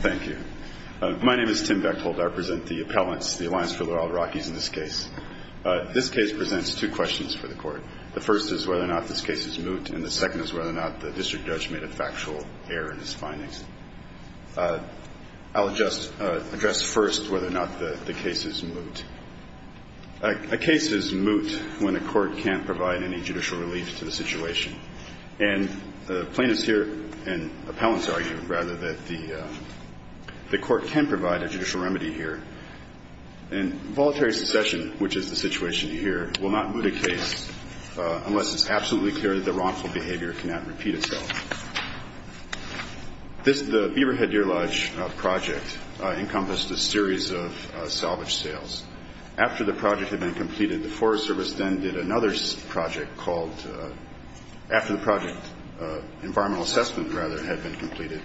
Thank you. My name is Tim Bechthold. I represent the appellants, the Alliance for the Wild Rockies in this case. This case presents two questions for the court. The first is whether or not this case is moot, and the second is whether or not the district judge made a factual error in his findings. I'll just address first whether or not the case is moot. A case is moot when a court can't provide any judicial relief to the situation. And plaintiffs here, and appellants argue, rather, that the court can provide a judicial remedy here. Voluntary succession, which is the situation here, will not moot a case unless it's absolutely clear that the wrongful behavior cannot repeat itself. The Beaverhead Deer Lodge project encompassed a series of salvage sales. After the project had been completed, the Forest Service then did another project called – after the project – environmental assessment, rather, had been completed.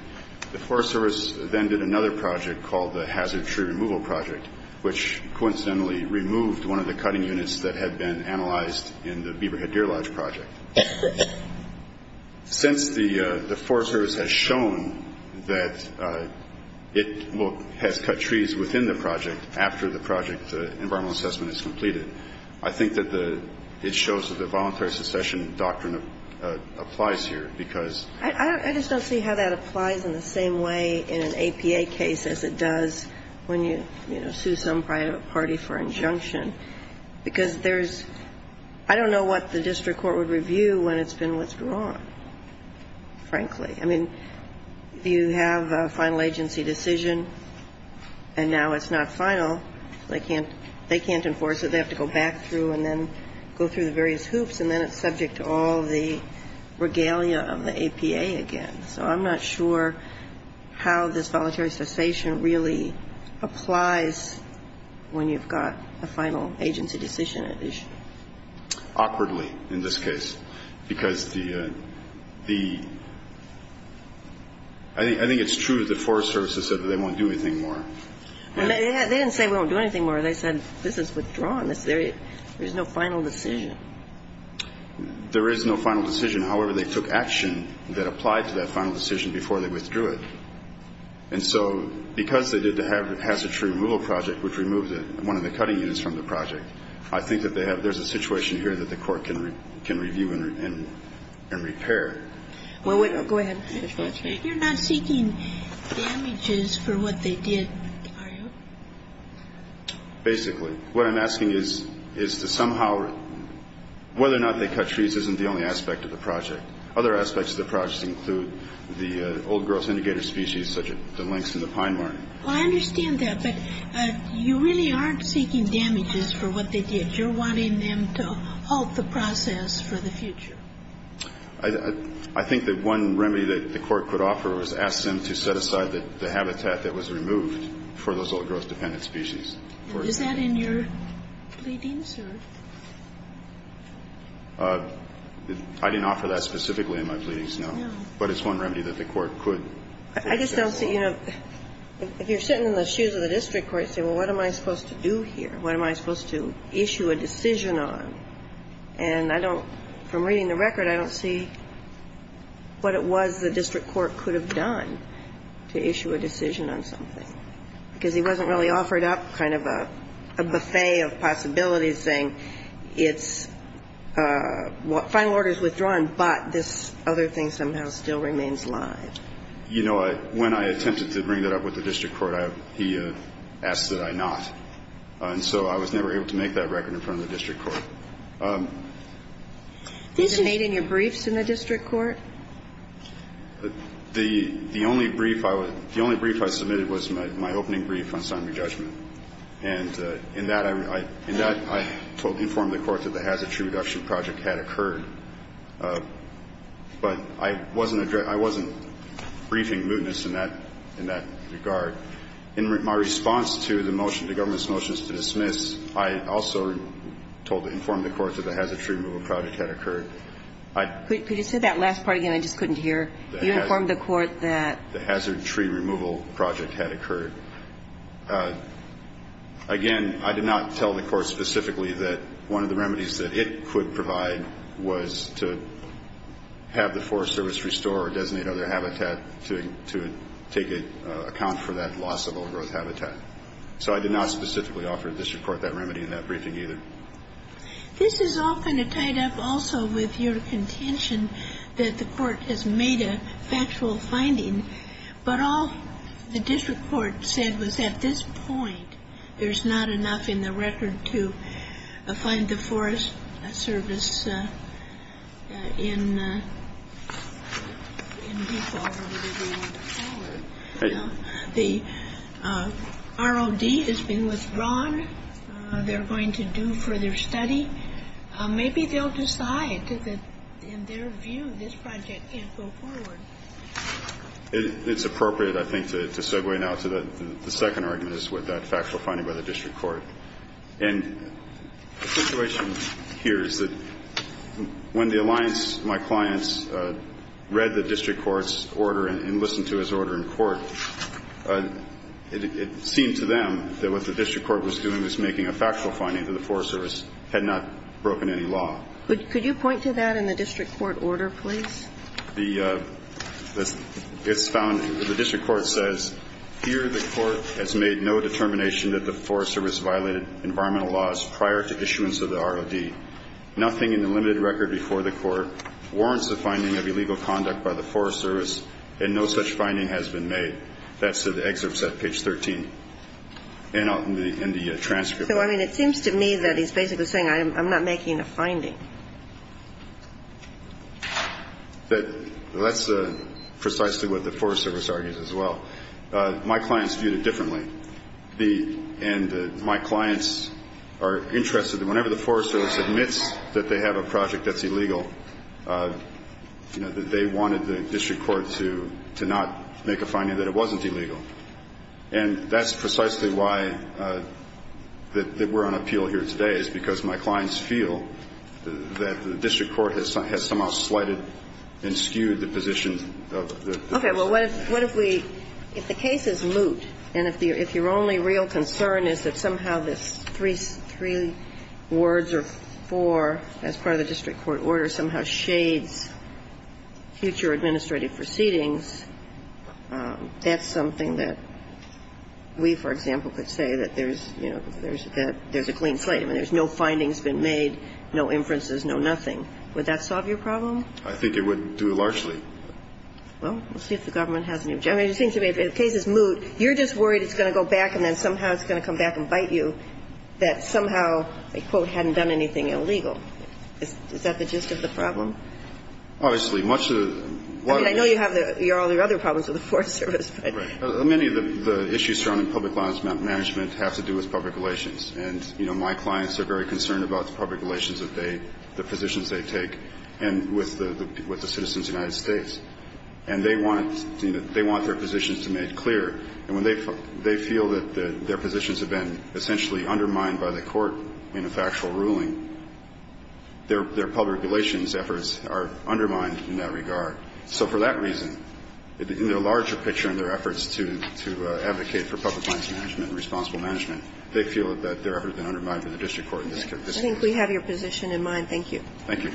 The Forest Service then did another project called the Hazard Tree Removal Project, which coincidentally removed one of the cutting units that had been analyzed in the Beaverhead Deer Lodge project. Since the Forest Service has shown that it will – has cut trees within the project after the project environmental assessment is completed, I think that the – it shows that the voluntary succession doctrine applies here, because – I just don't see how that applies in the same way in an APA case as it does when you, you know, sue some party for injunction. Because there's – I don't know what the district court would review when it's been withdrawn, frankly. I mean, you have a final agency decision, and now it's not final. They can't – they can't enforce it. They have to go back through and then go through the various hoops, and then it's subject to all the regalia of the APA again. So I'm not sure how this voluntary cessation really applies when you've got a final agency decision at issue. Awkwardly, in this case, because the – I think it's true that the Forest Service has said that they won't do anything more. They didn't say we won't do anything more. They said this is withdrawn. There is no final decision. There is no final decision. However, they took action that applied to that final decision before they withdrew it. And so because they did the hazard-free removal project, which removed one of the cutting units from the project, I think that they have – there's a situation here that the court can review and repair. Well, wait. Go ahead. You're not seeking damages for what they did, are you? Basically. What I'm asking is to somehow – whether or not they cut trees isn't the only aspect of the project. Other aspects of the project include the old-growth indicator species such as the lynx and the pine marten. Well, I understand that, but you really aren't seeking damages for what they did. You're wanting them to halt the process for the future. I think that one remedy that the court could offer was ask them to set aside the habitat that was removed for those old-growth-dependent species. Is that in your pleadings, or? I didn't offer that specifically in my pleadings, no. No. But it's one remedy that the court could. I just don't see – you know, if you're sitting in the shoes of the district court, you say, well, what am I supposed to do here? What am I supposed to issue a decision on? And I don't – from reading the record, I don't see what it was the district court could have done to issue a decision on something, because he wasn't really offered up kind of a buffet of possibilities, saying it's – final order is withdrawn, but this other thing somehow still remains live. You know, when I attempted to bring that up with the district court, he asked that I not. And so I was never able to make that record in front of the district court. These are made in your briefs in the district court? The only brief I was – the only brief I submitted was my opening brief on summary judgment. And in that, I told – informed the court that the Hazard Tree Reduction Project had occurred. But I wasn't briefing mootness in that regard. In my response to the motion, the government's motion to dismiss, I also told – informed the court that the Hazard Tree Removal Project had occurred. Could you say that last part again? I just couldn't hear. You informed the court that? The Hazard Tree Removal Project had occurred. Again, I did not tell the court specifically that one of the remedies that it could provide was to have the Forest Service restore or designate other habitat to take account for that loss of overgrowth habitat. So I did not specifically offer the district court that remedy in that briefing either. This is all kind of tied up also with your contention that the court has made a factual finding. But all the district court said was at this point, There's not enough in the record to find the Forest Service in default. The ROD has been withdrawn. They're going to do further study. Maybe they'll decide that, in their view, this project can't go forward. It's appropriate, I think, to segue now to the second argument, is with that factual finding by the district court. And the situation here is that when the alliance, my clients, read the district court's order and listened to his order in court, it seemed to them that what the district court was doing was making a factual finding that the Forest Service had not broken any law. Could you point to that in the district court order, please? The district court says, Here the court has made no determination that the Forest Service violated environmental laws prior to issuance of the ROD. Nothing in the limited record before the court warrants the finding of illegal conduct by the Forest Service, and no such finding has been made. That's the excerpt set at page 13 in the transcript. So, I mean, it seems to me that he's basically saying I'm not making a finding. That's precisely what the Forest Service argues as well. My clients viewed it differently. And my clients are interested that whenever the Forest Service admits that they have a project that's illegal, that they wanted the district court to not make a finding that it wasn't illegal. And that's precisely why we're on appeal here today, is because my clients feel that the district court has somehow slighted and skewed the position. Okay. Well, what if we – if the case is moot and if your only real concern is that somehow this three words or four, as part of the district court order, somehow shades future administrative proceedings, that's something that we, for example, could say that there's, you know, there's a clean slate. I mean, there's no findings been made, no inferences, no nothing. Would that solve your problem? I think it would do largely. Well, we'll see if the government has any objection. I mean, it seems to me if the case is moot, you're just worried it's going to go back and then somehow it's going to come back and bite you, that somehow they, quote, hadn't done anything illegal. Is that the gist of the problem? Obviously. I mean, I know you have all your other problems with the Forest Service. Right. Many of the issues surrounding public law management have to do with public relations. And, you know, my clients are very concerned about the public relations that they, the positions they take, and with the citizens of the United States. And they want their positions to be made clear. And when they feel that their positions have been essentially undermined by the court in a factual ruling, their public relations efforts are undermined in that regard. So for that reason, in the larger picture in their efforts to advocate for public relations, I don't think they're ever undermined by the district court in this case. I think we have your position in mind. Thank you. Thank you.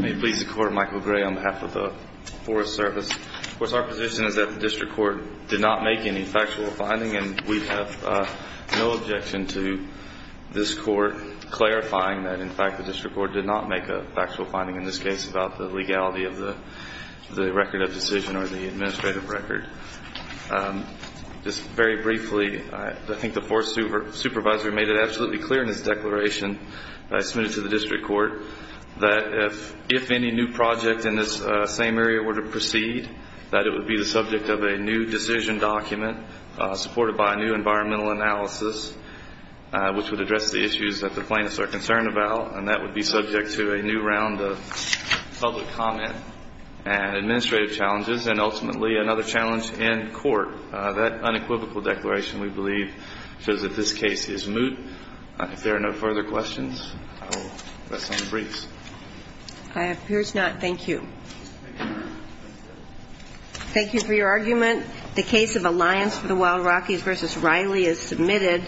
May it please the Court, Michael Gray on behalf of the Forest Service. Of course, our position is that the district court did not make any factual finding. And we have no objection to this court clarifying that, in fact, the district court did not make a factual finding in this case about the legality of the record of decision or the administrative record. Just very briefly, I think the Forest Supervisor made it absolutely clear in his declaration that I submitted to the district court that if any new project in this same area were to proceed, that it would be the subject of a new decision document supported by a new environmental analysis, which would address the issues that the plaintiffs are concerned about. And that would be subject to a new round of public comment and administrative challenges, and ultimately another challenge in court. That unequivocal declaration, we believe, shows that this case is moot. If there are no further questions, I will let someone brief. I appears not. Thank you. Thank you for your argument. The case of Alliance for the Wild Rockies v. Riley is submitted.